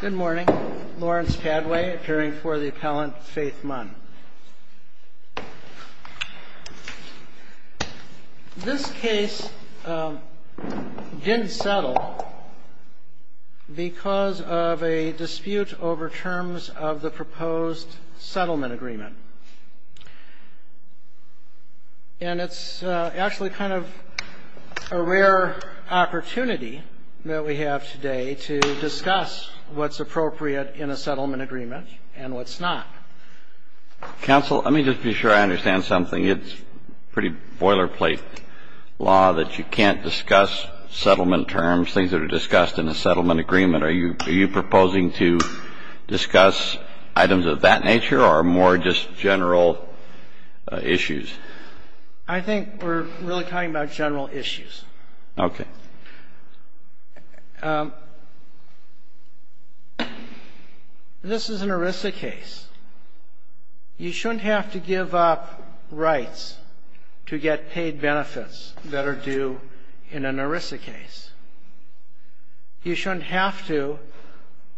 Good morning. Lawrence Padway, appearing for the appellant, Faith Munn. This case didn't settle because of a dispute over terms of the proposed settlement agreement. And it's actually kind of a rare opportunity that we have today to discuss what's appropriate in a settlement agreement and what's not. Counsel, let me just be sure I understand something. It's pretty boilerplate law that you can't discuss settlement terms, things that are discussed in a settlement agreement. Are you proposing to discuss items of that nature or more just general issues? I think we're really talking about general issues. Okay. This is an ERISA case. You shouldn't have to give up rights to get paid benefits that are due in an ERISA case. You shouldn't have to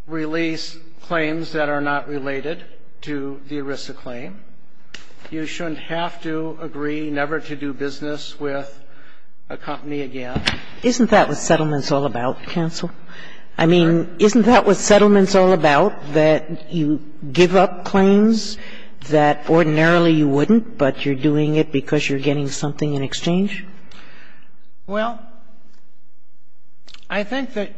release claims that are not related to the ERISA claim. You shouldn't have to agree never to do business with a company again. Isn't that what settlement's all about, counsel? I mean, isn't that what settlement's all about, that you give up claims that ordinarily you wouldn't, but you're doing it because you're getting something in exchange? Well, I think that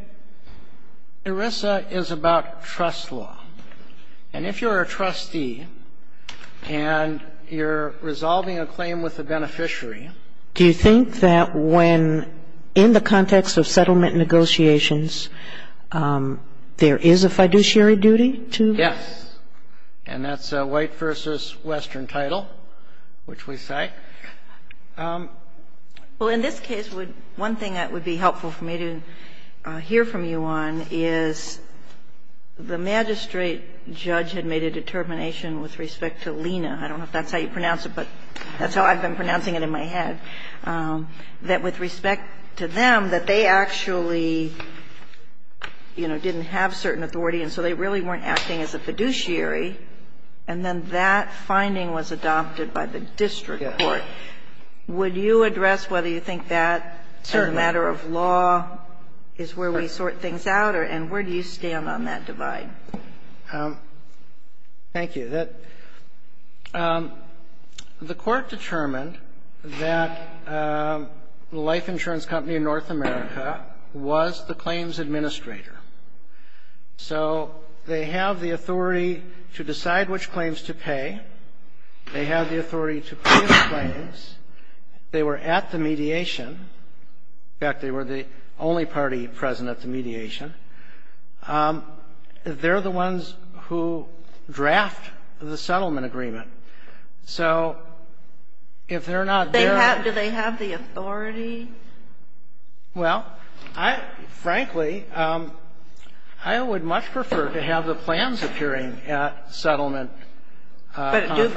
ERISA is about trust law. And if you're a trustee and you're resolving a claim with a beneficiary ---- Do you think that when, in the context of settlement negotiations, there is a fiduciary duty to ---- Yes. And that's a White v. Western title, which we cite. Well, in this case, one thing that would be helpful for me to hear from you on is the magistrate judge had made a determination with respect to Lena. I don't know if that's how you pronounce it, but that's how I've been pronouncing it in my head, that with respect to them, that they actually, you know, didn't have certain authority, and so they really weren't acting as a fiduciary. And then that finding was adopted by the district court. Yes. Would you address whether you think that, as a matter of law, is where we sort things out, and where do you stand on that divide? Thank you. The Court determined that the life insurance company in North America was the claims administrator. So they have the authority to decide which claims to pay. They have the authority to pay the claims. They were at the mediation. In fact, they were the only party present at the mediation. They're the ones who draft the settlement agreement. So if they're not there ---- Do they have the authority? Well, frankly, I would much prefer to have the plans appearing at settlement conferences.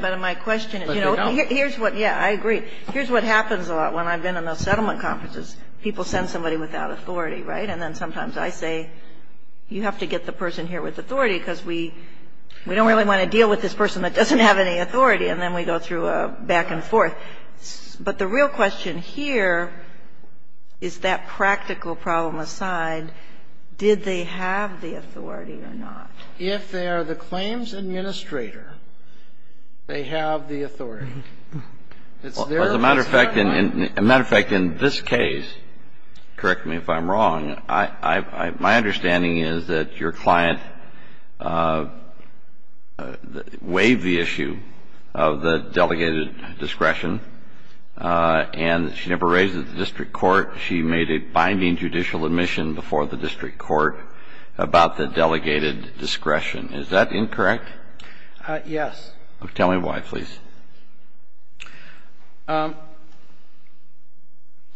But my question is, you know, here's what ---- But they don't. Yeah, I agree. Here's what happens a lot when I've been in those settlement conferences. People send somebody without authority, right? And then sometimes I say, you have to get the person here with authority, because we don't really want to deal with this person that doesn't have any authority, and then we go through a back and forth. But the real question here is that practical problem aside, did they have the authority or not? If they are the claims administrator, they have the authority. It's their responsibility. As a matter of fact, in this case, correct me if I'm wrong, my understanding is that your client waived the issue of the delegated discretion, and she never raised it at the district court. She made a binding judicial admission before the district court about the delegated discretion. Is that incorrect? Yes. Tell me why, please.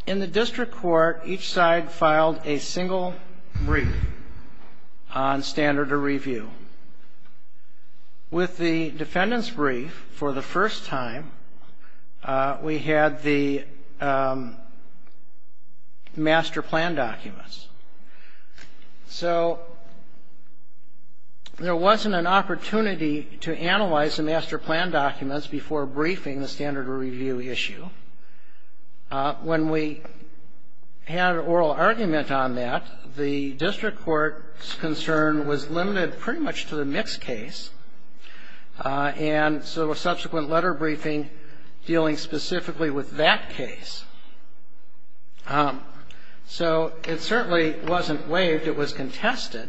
In the district court, each side filed a single brief on standard of review. With the defendant's brief, for the first time, we had the master plan documents. So there wasn't an opportunity to analyze the master plan documents before briefing the standard of review issue. When we had an oral argument on that, the district court's concern was limited pretty much to the mixed case, and so a subsequent letter briefing dealing specifically with that case. So it certainly wasn't waived. It was contested.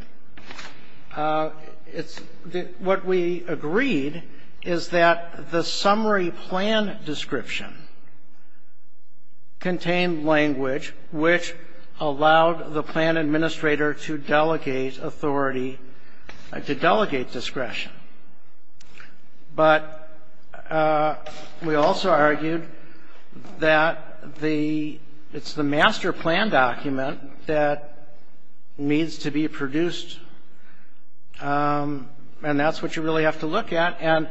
What we agreed is that the summary plan description contained language which allowed the plan administrator to delegate authority, to delegate discretion. But we also argued that it's the master plan document that needs to be produced, and that's what you really have to look at. And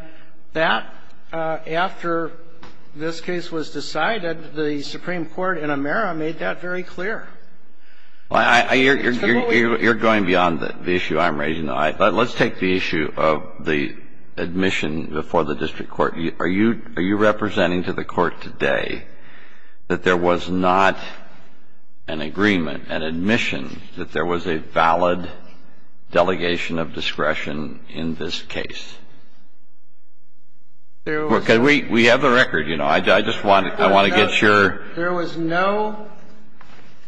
that, after this case was decided, the Supreme Court in Amera made that very clear. You're going beyond the issue I'm raising. Let's take the issue of the admission before the district court. Are you representing to the court today that there was not an agreement, an admission, that there was a valid delegation of discretion in this case? Because we have the record, you know. I just want to get your ---- There was no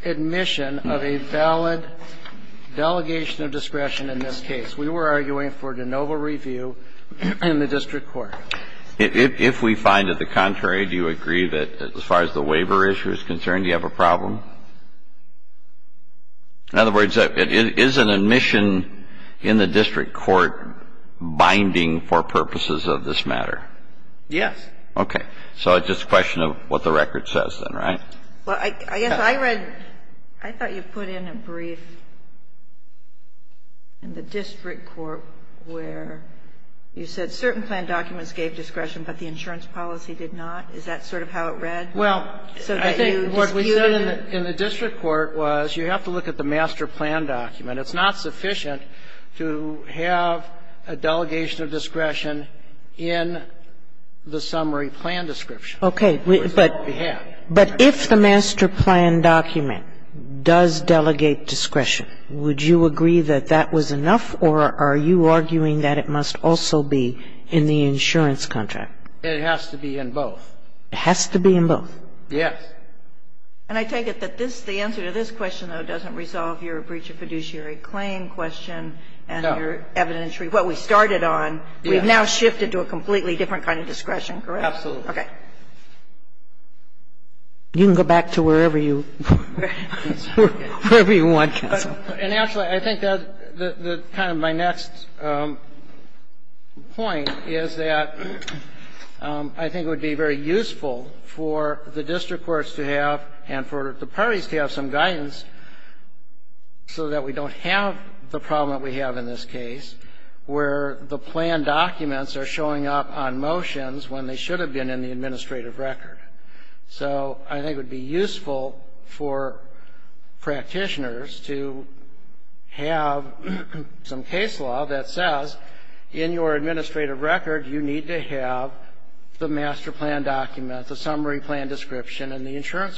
admission of a valid delegation of discretion in this case. We were arguing for de novo review in the district court. If we find it the contrary, do you agree that, as far as the waiver issue is concerned, you have a problem? In other words, is an admission in the district court binding for purposes of this matter? Yes. Okay. So it's just a question of what the record says then, right? Well, I guess I read ---- I thought you put in a brief in the district court where you said certain plan documents gave discretion, but the insurance policy did not. Is that sort of how it read? Well, I think what we said in the district court was you have to look at the master plan document. It's not sufficient to have a delegation of discretion in the summary plan description. Okay. But if the master plan document does delegate discretion, would you agree that that was enough, or are you arguing that it must also be in the insurance contract? It has to be in both. It has to be in both? Yes. And I take it that the answer to this question, though, doesn't resolve your breach of fiduciary claim question and your evidentiary, what we started on. We've now shifted to a completely different kind of discretion, correct? Absolutely. Okay. You can go back to wherever you want, Counsel. And actually, I think that kind of my next point is that I think it would be very useful for the district courts to have and for the parties to have some guidance so that we don't have the problem that we have in this case where the plan documents are showing up on motions when they should have been in the administrative record. So I think it would be useful for practitioners to have some case law that says in your insurance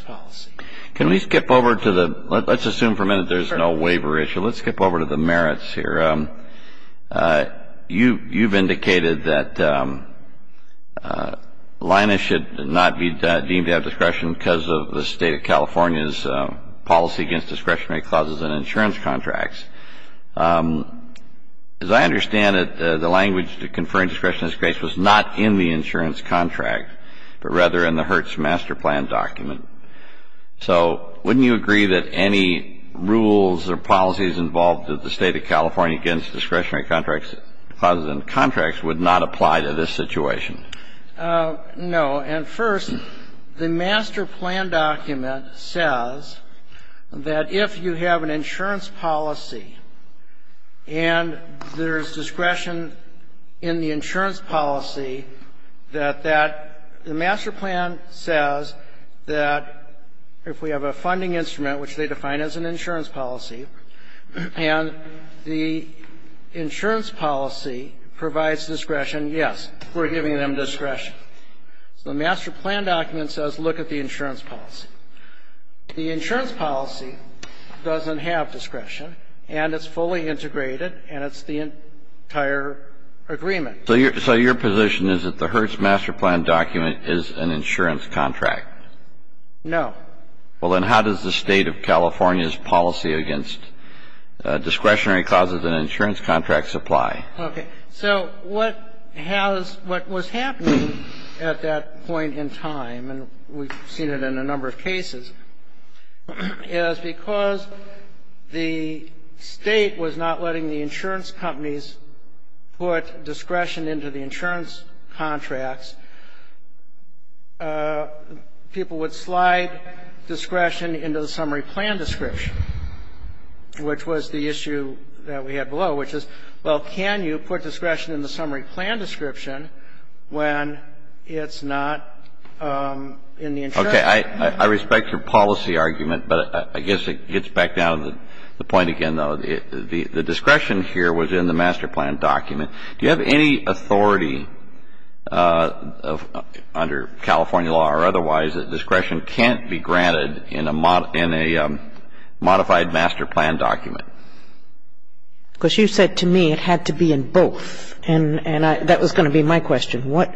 policy. Can we skip over to the, let's assume for a minute there's no waiver issue. Let's skip over to the merits here. You've indicated that Linus should not be deemed to have discretion because of the State of California's policy against discretionary clauses in insurance contracts. As I understand it, the language to conferring discretion was not in the insurance contract, but rather in the H.E.R.T.S. master plan document. So wouldn't you agree that any rules or policies involved with the State of California against discretionary clauses in contracts would not apply to this situation? No. And first, the master plan document says that if you have an insurance policy and there's discretion in the insurance policy, that that the master plan says that if we have a funding instrument, which they define as an insurance policy, and the insurance policy provides discretion, yes, we're giving them discretion. So the master plan document says look at the insurance policy. The insurance policy doesn't have discretion, and it's fully integrated, and it's the entire agreement. So your position is that the H.E.R.T.S. master plan document is an insurance contract? No. Well, then how does the State of California's policy against discretionary clauses in insurance contracts apply? Okay. So what has what was happening at that point in time, and we've seen it in a number of cases, is because the State was not letting the insurance companies put discretion into the insurance contracts, people would slide discretion into the summary plan description, which was the issue that we had below, which is, well, can you put discretion in the summary plan description when it's not in the insurance contract? Okay. I respect your policy argument, but I guess it gets back down to the point again, though. The discretion here was in the master plan document. Do you have any authority under California law or otherwise that discretion can't be granted in a modified master plan document? Because you said to me it had to be in both, and that was going to be my question. What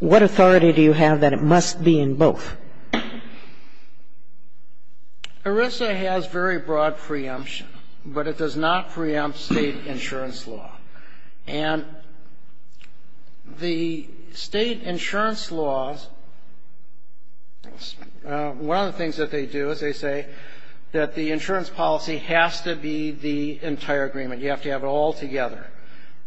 authority do you have that it must be in both? ERISA has very broad preemption, but it does not preempt State insurance law. And the State insurance laws, one of the things that they do is they say that the entire agreement, you have to have it all together.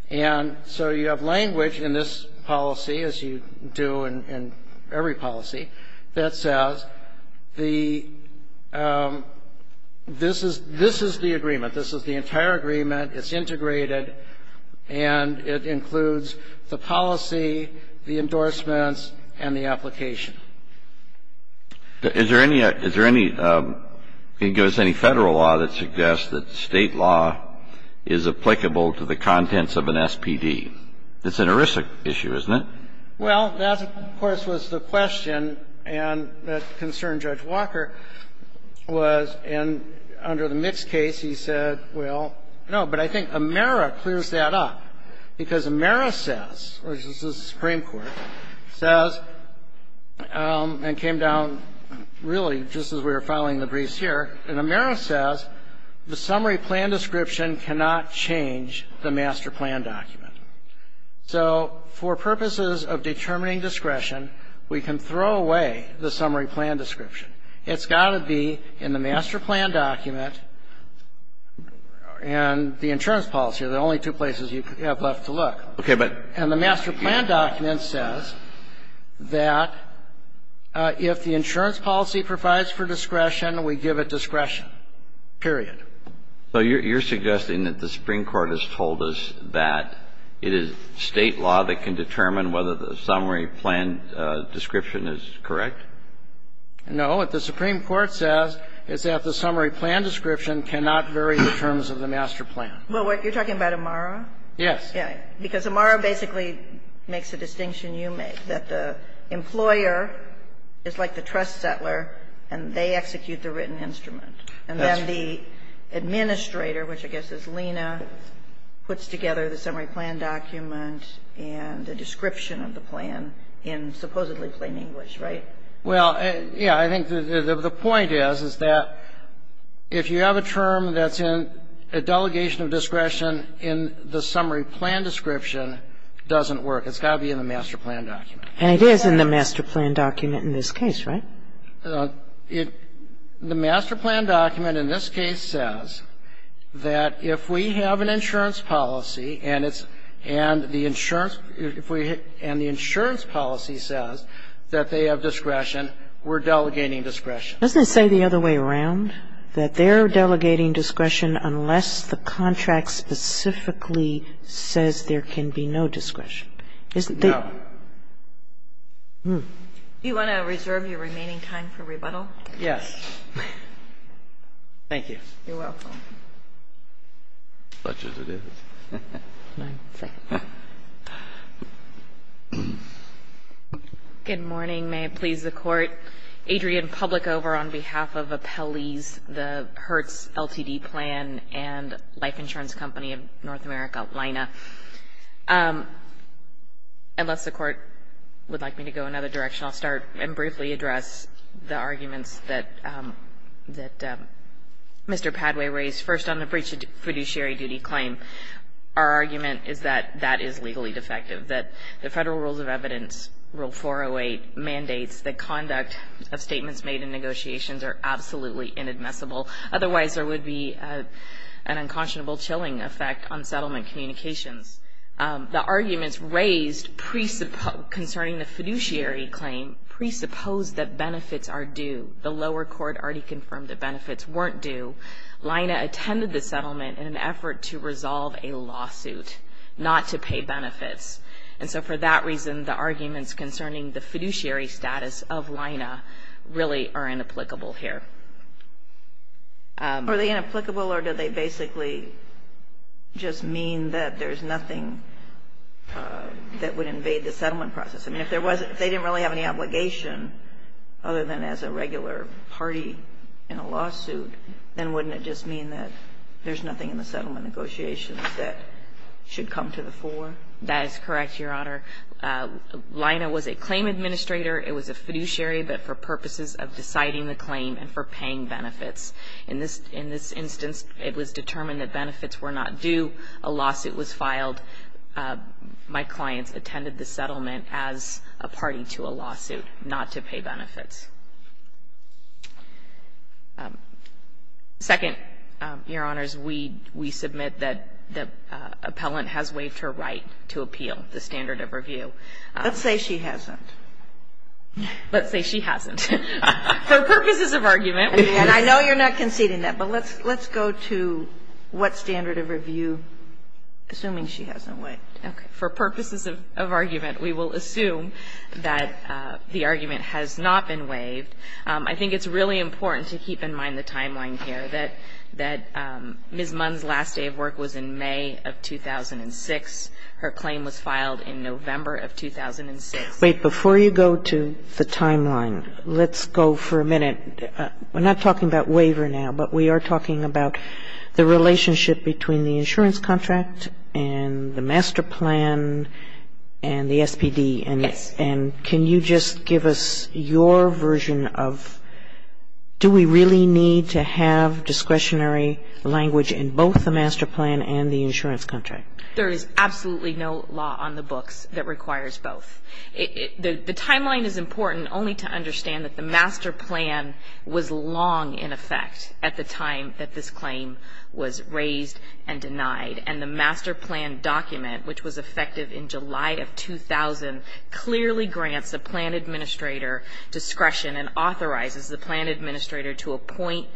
And so you have language in this policy, as you do in every policy, that says the this is the agreement, this is the entire agreement, it's integrated, and it includes the policy, the endorsements, and the application. Is there any federal law that suggests that State law is applicable to the contents of an SPD? It's an ERISA issue, isn't it? Well, that, of course, was the question, and that concerned Judge Walker, and under the Mix case, he said, well, no, but I think AMERA clears that up, because AMERA says, which is the Supreme Court, says, and came down really just as we were following the briefs here, and AMERA says the summary plan description cannot change the master plan document. So for purposes of determining discretion, we can throw away the summary plan description. It's got to be in the master plan document and the insurance policy are the only two places you have left to look. And the master plan document says that if the insurance policy provides for discretion, we give it discretion, period. So you're suggesting that the Supreme Court has told us that it is State law that can determine whether the summary plan description is correct? No. What the Supreme Court says is that the summary plan description cannot vary in terms of the master plan. Well, you're talking about AMERA? Yes. Because AMERA basically makes a distinction you make, that the employer is like the trust settler, and they execute the written instrument. And then the administrator, which I guess is Lena, puts together the summary plan document and the description of the plan in supposedly plain English, right? Well, yeah. I think the point is, is that if you have a term that's in a delegation of discretion in the summary plan description, it doesn't work. It's got to be in the master plan document. And it is in the master plan document in this case, right? The master plan document in this case says that if we have an insurance policy and it's the insurance policy says that they have discretion, we're delegating discretion. Doesn't it say the other way around? That they're delegating discretion unless the contract specifically says there can be no discretion. Isn't there? No. Do you want to reserve your remaining time for rebuttal? Yes. Thank you. You're welcome. Good morning. May it please the Court. Adrian Public over on behalf of Appellees, the Hertz LTD Plan and Life Insurance Company of North America, LINA. Unless the Court would like me to go another direction, I'll start and briefly address the arguments that Mr. Padway raised. First, on the breach of fiduciary duty claim, our argument is that that is legally defective, that the Federal Rules of Evidence, Rule 408, mandates that conduct of statements made in negotiations are absolutely inadmissible. Otherwise, there would be an unconscionable chilling effect on settlement communications. The arguments raised concerning the fiduciary claim presupposed that benefits are due. The lower court already confirmed that benefits weren't due. LINA attended the settlement in an effort to resolve a lawsuit, not to pay benefits. And so for that reason, the arguments concerning the fiduciary status of LINA really are inapplicable here. Are they inapplicable or do they basically just mean that there's nothing that would invade the settlement process? I mean, if they didn't really have any obligation other than as a regular party in a settlement negotiation, wouldn't it just mean that there's nothing in the settlement negotiations that should come to the fore? That is correct, Your Honor. LINA was a claim administrator. It was a fiduciary, but for purposes of deciding the claim and for paying benefits. In this instance, it was determined that benefits were not due. A lawsuit was filed. My clients attended the settlement as a party to a lawsuit, not to pay benefits. Second, Your Honors, we submit that the appellant has waived her right to appeal the standard of review. Let's say she hasn't. Let's say she hasn't. For purposes of argument. And I know you're not conceding that, but let's go to what standard of review, assuming she hasn't waived it. For purposes of argument, we will assume that the argument has not been waived. I think it's really important to keep in mind the timeline here, that Ms. Munn's last day of work was in May of 2006. Her claim was filed in November of 2006. Wait. Before you go to the timeline, let's go for a minute. We're not talking about waiver now, but we are talking about the relationship between the insurance contract and the master plan and the SPD. Yes. And can you just give us your version of do we really need to have discretionary language in both the master plan and the insurance contract? There is absolutely no law on the books that requires both. The timeline is important only to understand that the master plan was long in effect at the time that this claim was raised and denied. And the master plan document, which was effective in July of 2000, clearly grants the plan administrator discretion and authorizes the plan administrator to appoint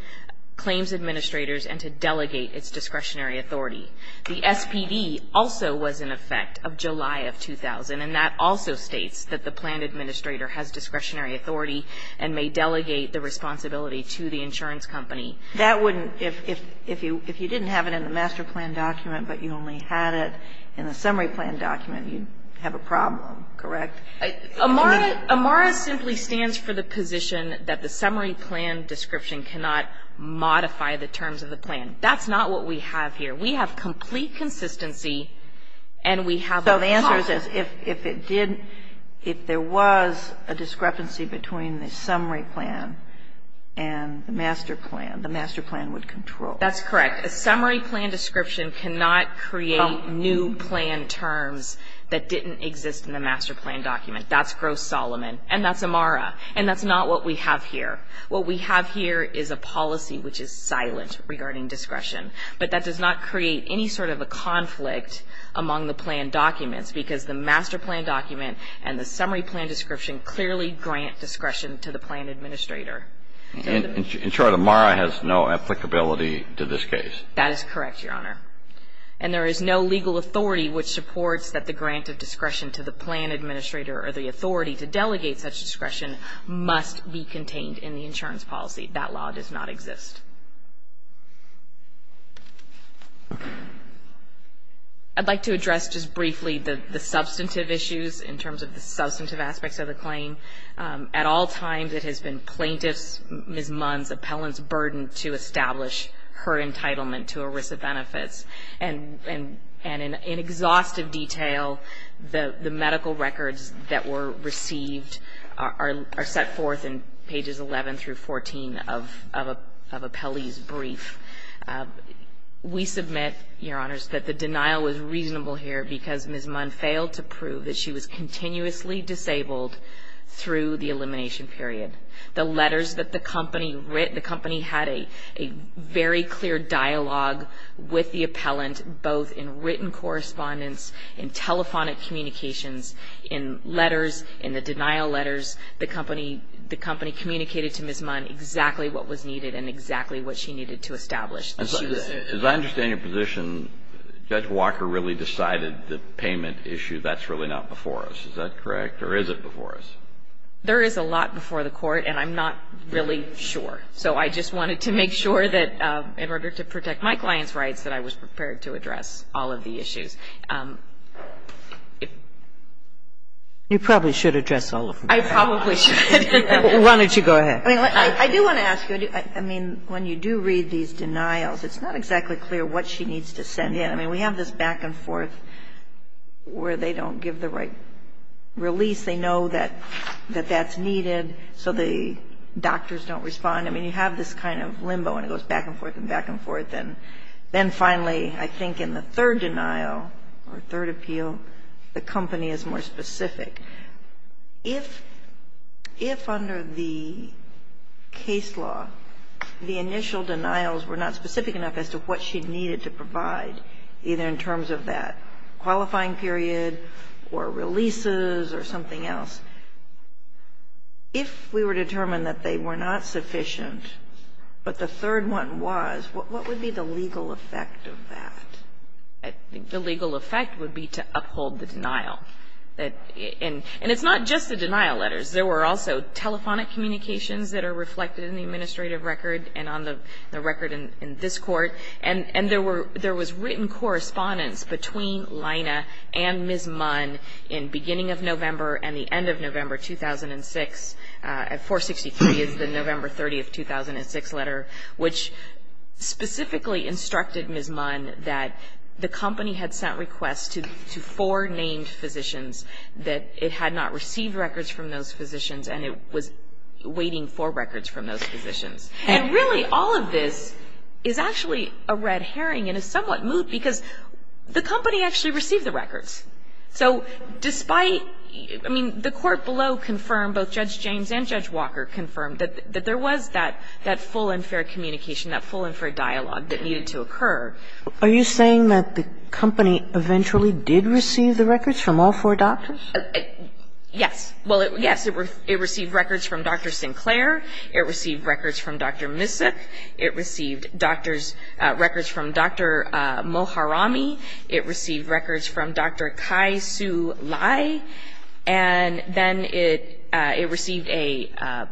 claims administrators and to delegate its discretionary authority. The SPD also was in effect of July of 2000, and that also states that the plan administrator has discretionary authority and may delegate the responsibility to the insurance company. That wouldn't, if you didn't have it in the master plan document, but you only had it in the summary plan document, you'd have a problem, correct? AMARA simply stands for the position that the summary plan description cannot modify the terms of the plan. That's not what we have here. We have complete consistency, and we have a process. So the answer is if there was a discrepancy between the summary plan and the master plan, the master plan would control. That's correct. A summary plan description cannot create new plan terms that didn't exist in the master plan document. That's gross Solomon, and that's AMARA, and that's not what we have here. What we have here is a policy which is silent regarding discretion, but that does not create any sort of a conflict among the plan documents because the master plan document and the summary plan description clearly grant discretion to the plan administrator. In short, AMARA has no applicability to this case. That is correct, Your Honor. And there is no legal authority which supports that the grant of discretion to the plan administrator or the authority to delegate such discretion must be contained in the insurance policy. That law does not exist. I'd like to address just briefly the substantive issues in terms of the substantive aspects of the claim. At all times it has been plaintiff's, Ms. Munn's, appellant's burden to establish her entitlement to ERISA benefits. And in exhaustive detail, the medical records that were received are set forth in pages 11 through 14 of appellee's brief. We submit, Your Honors, that the denial was reasonable here because Ms. Munn failed to prove that she was continuously disabled through the elimination period. The letters that the company had a very clear dialogue with the appellant, both in written correspondence, in telephonic communications, in letters, in the denial letters, the company communicated to Ms. Munn exactly what was needed and exactly what she needed to establish. As I understand your position, Judge Walker really decided the payment issue, that's really not before us. Is that correct? Or is it before us? There is a lot before the Court, and I'm not really sure. So I just wanted to make sure that in order to protect my client's rights, that I was prepared to address all of the issues. You probably should address all of them. I probably should. Why don't you go ahead. I do want to ask you. I mean, when you do read these denials, it's not exactly clear what she needs to send in. I mean, we have this back and forth where they don't give the right release. They know that that's needed, so the doctors don't respond. I mean, you have this kind of limbo, and it goes back and forth and back and forth. And then finally, I think in the third denial or third appeal, the company is more specific. If under the case law the initial denials were not specific enough as to what she needed to provide, either in terms of that qualifying period or releases or something else, if we were determined that they were not sufficient, but the third one was, what would be the legal effect of that? I think the legal effect would be to uphold the denial. And it's not just the denial letters. There were also telephonic communications that are reflected in the administrative record and on the record in this Court. And there were – there was written correspondence between Lina and Ms. Munn in beginning of November and the end of November 2006. 463 is the November 30th, 2006 letter, which specifically instructed Ms. Munn that the company had sent requests to four named physicians, that it had not received records from those physicians, and it was waiting for records from those physicians. And really, all of this is actually a red herring and is somewhat moot, because the company actually received the records. So despite – I mean, the Court below confirmed, both Judge James and Judge Walker confirmed, that there was that full and fair communication, that full and fair dialogue that needed to occur. Are you saying that the company eventually did receive the records from all four doctors? Yes. Well, yes. It received records from Dr. Sinclair. It received records from Dr. Misak. It received doctors – records from Dr. Moharami. It received records from Dr. Kai-Sue Lai. And then it received a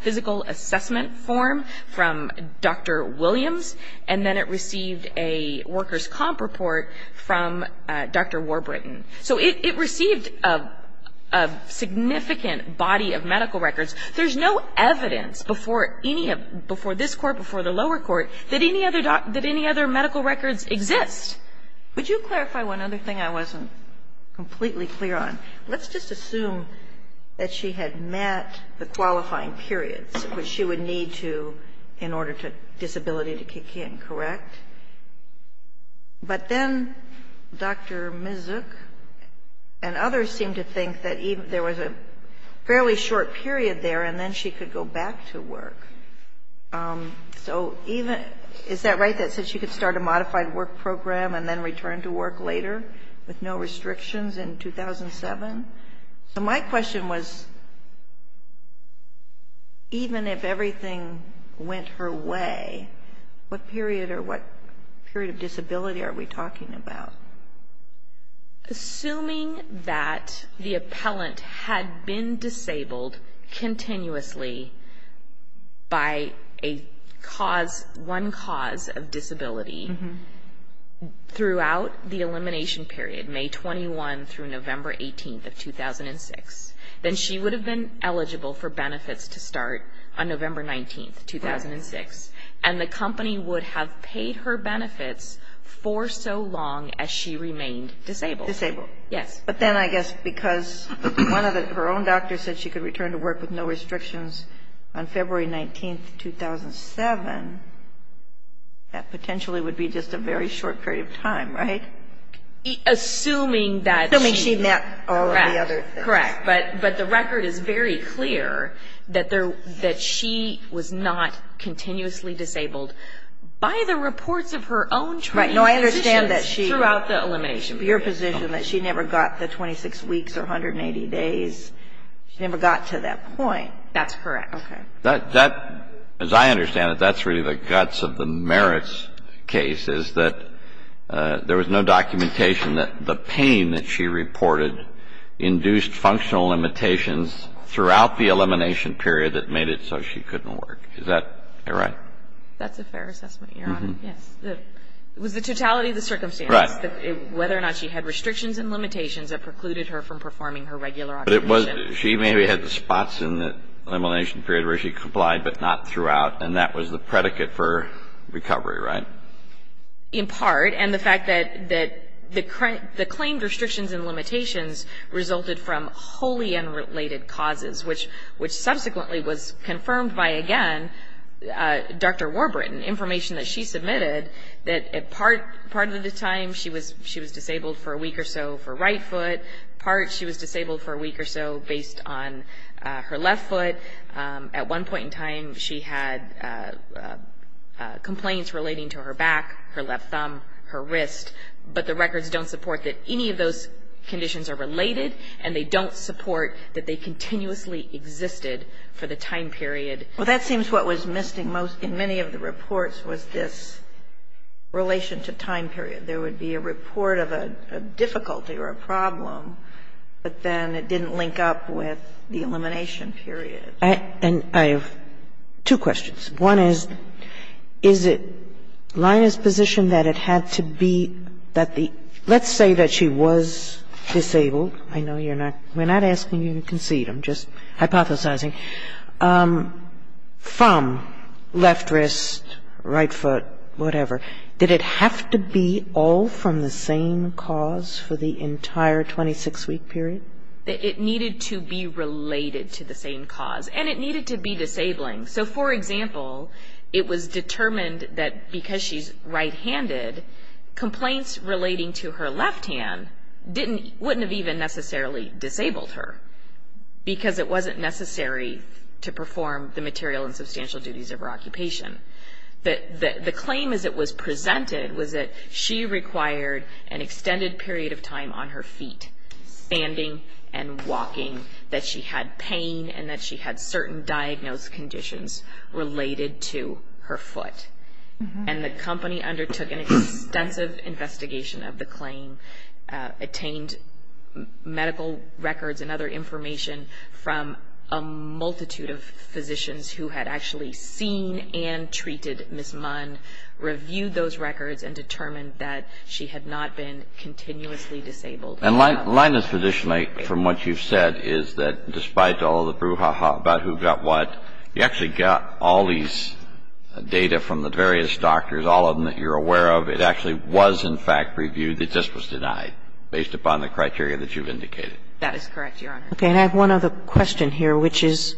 physical assessment form from Dr. Williams. And then it received a workers' comp report from Dr. Warburton. So it received a significant body of medical records. There's no evidence before any of – before this Court, before the lower court, that any other – that any other medical records exist. Would you clarify one other thing I wasn't completely clear on? Let's just assume that she had met the qualifying periods which she would need to in order for disability to kick in, correct? But then Dr. Misak and others seemed to think that there was a fairly short period there, and then she could go back to work. So even – is that right, that she could start a modified work program and then return to work later with no restrictions in 2007? So my question was, even if everything went her way, what period or what period of disability are we talking about? Assuming that the appellant had been disabled continuously by a cause – one cause of disability throughout the elimination period, May 21 through November 18 of 2006, then she would have been eligible for benefits to start on November 19, 2006. And the company would have paid her benefits for so long as she remained disabled. Disabled. Yes. But then I guess because one of the – her own doctor said she could return to work with no restrictions on February 19, 2007, that potentially would be just a very short period of time, right? Assuming that she – Assuming she met all of the other things. Correct. Correct. But the record is very clear that she was not continuously disabled by the reports of her own training positions throughout the elimination period. Right. No, I understand that she – your position that she never got the 26 weeks or 180 days. She never got to that point. That's correct. Okay. That – as I understand it, that's really the guts of the merits case, is that there was no documentation that the pain that she reported induced functional limitations throughout the elimination period that made it so she couldn't work. Is that right? That's a fair assessment, Your Honor. Yes. It was the totality of the circumstance. Right. Whether or not she had restrictions and limitations that precluded her from performing her regular occupation. But it was – she maybe had the spots in the elimination period where she complied but not throughout, and that was the predicate for recovery, right? In part. And the fact that the claimed restrictions and limitations resulted from wholly unrelated causes, which subsequently was confirmed by, again, Dr. Warburton, information that she submitted that part of the time she was disabled for a week or so for right foot, part she was disabled for a week or so based on her left foot. At one point in time, she had complaints relating to her back, her left thumb, her wrist, but the records don't support that any of those conditions are related and they don't support that they continuously existed for the time period. Well, that seems what was missing most in many of the reports was this relation to time period. And I have two questions. One is, is it Lyna's position that it had to be that the – let's say that she was disabled. I know you're not – we're not asking you to concede. I'm just hypothesizing. From left wrist, right foot, whatever, did it have to be all from the same cause for the entire 26-week period? It needed to be related to the same cause. And it needed to be disabling. So, for example, it was determined that because she's right-handed, complaints relating to her left hand didn't – wouldn't have even necessarily disabled her because it wasn't necessary to perform the material and substantial duties of her occupation. The claim, as it was presented, was that she required an extended period of time on her feet, standing and walking, that she had pain and that she had certain diagnosed conditions related to her foot. And the company undertook an extensive investigation of the claim, attained medical records and other information from a multitude of physicians who had actually seen and treated Ms. Munn, reviewed those records and determined that she had not been continuously disabled. And Linus, traditionally, from what you've said, is that despite all the brouhaha about who got what, you actually got all these data from the various doctors, all of them that you're aware of. It actually was, in fact, reviewed. It just was denied based upon the criteria that you've indicated. That is correct, Your Honor. Okay. And I have one other question here, which is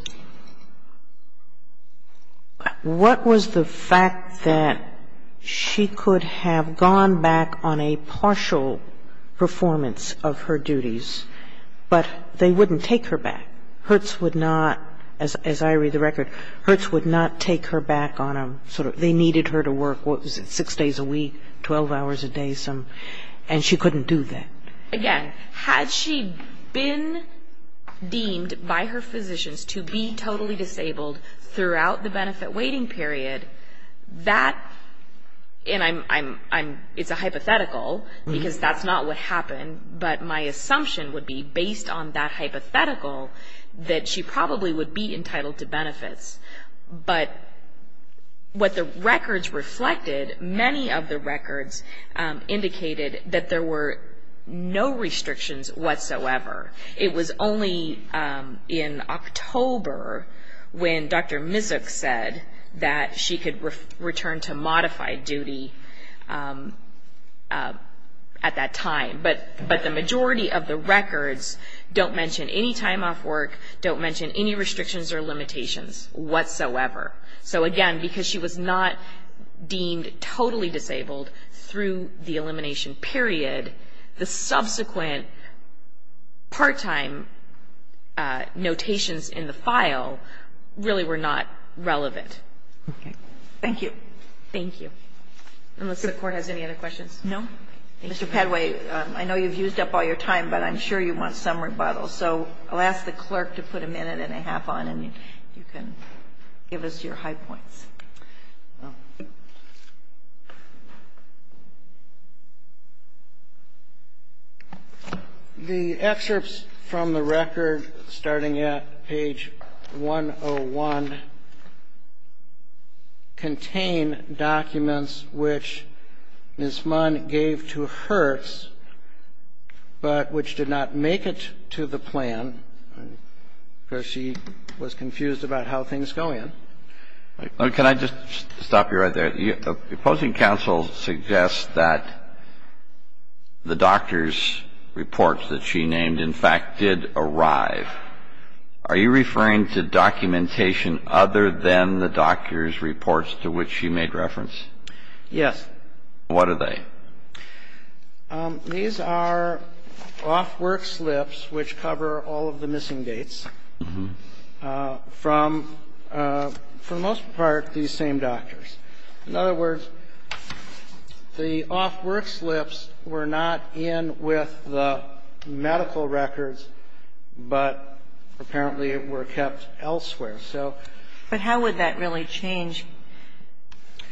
what was the fact that she could have gone back on a partial performance of her duties, but they wouldn't take her back? Hertz would not, as I read the record, Hertz would not take her back on a sort of – they needed her to work, what was it, six days a week, 12 hours a day some, and she couldn't do that? Again, had she been deemed by her physicians to be totally disabled throughout the benefit waiting period, that – and it's a hypothetical because that's not what happened, but my assumption would be, based on that hypothetical, that she probably would be entitled to benefits. But what the records reflected, many of the records indicated that there were no restrictions whatsoever. It was only in October when Dr. Mizuch said that she could return to modified duty at that time. But the majority of the records don't mention any time off work, don't mention any restrictions or limitations whatsoever. So again, because she was not deemed totally disabled through the elimination period, the subsequent part-time notations in the file really were not relevant. Okay. Thank you. Thank you. Unless the Court has any other questions. No. Mr. Padway, I know you've used up all your time, but I'm sure you want some rebuttal. So I'll ask the clerk to put a minute and a half on, and you can give us your high points. The excerpts from the record, starting at page 101, contain documents which Ms. I'm going to ask the clerk to put a minute and a half on. Ms. Mizuch's plan, because she was confused about how things go in. Can I just stop you right there? Opposing counsel suggests that the doctor's reports that she named, in fact, did arrive. Are you referring to documentation other than the doctor's reports to which she made reference? Yes. What are they? These are off-work slips which cover all of the missing dates from, for the most part, these same doctors. In other words, the off-work slips were not in with the medical records, but apparently it were kept elsewhere. But how would that really change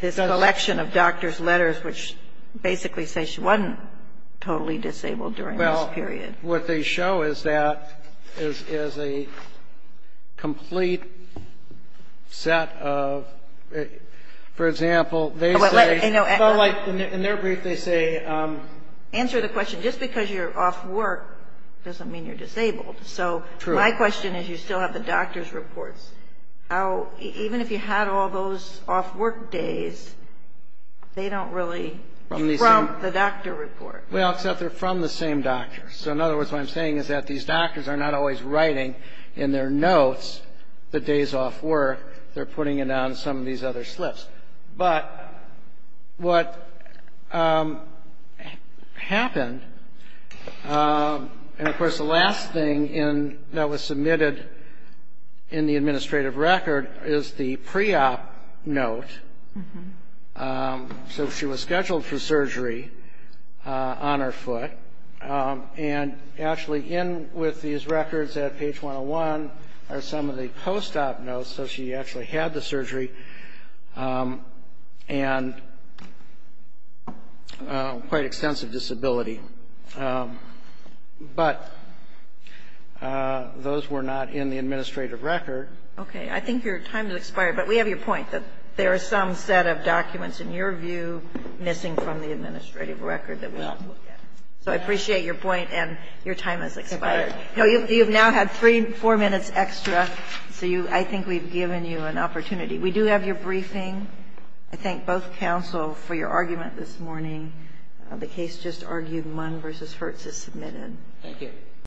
this collection of doctor's letters which basically say she wasn't totally disabled during this period? What they show is that, is a complete set of, for example, they say. In their brief, they say. Answer the question. Just because you're off work doesn't mean you're disabled. True. So my question is, you still have the doctor's reports. Even if you had all those off-work days, they don't really, from the doctor report. Well, except they're from the same doctor. So in other words, what I'm saying is that these doctors are not always writing in their notes the days off work. They're putting it on some of these other slips. But what happened, and of course the last thing that was submitted in the administrative record is the pre-op note. So she was scheduled for surgery on her foot, and actually in with these records at page 101 are some of the post-op notes. So she actually had the surgery and quite extensive disability. But those were not in the administrative record. Okay. I think your time has expired. But we have your point that there are some set of documents, in your view, missing from the administrative record that we have to look at. So I appreciate your point, and your time has expired. You've now had three, four minutes extra. So I think we've given you an opportunity. We do have your briefing. I thank both counsel for your argument this morning. The case just argued Munn v. Hertz is submitted. Thank you.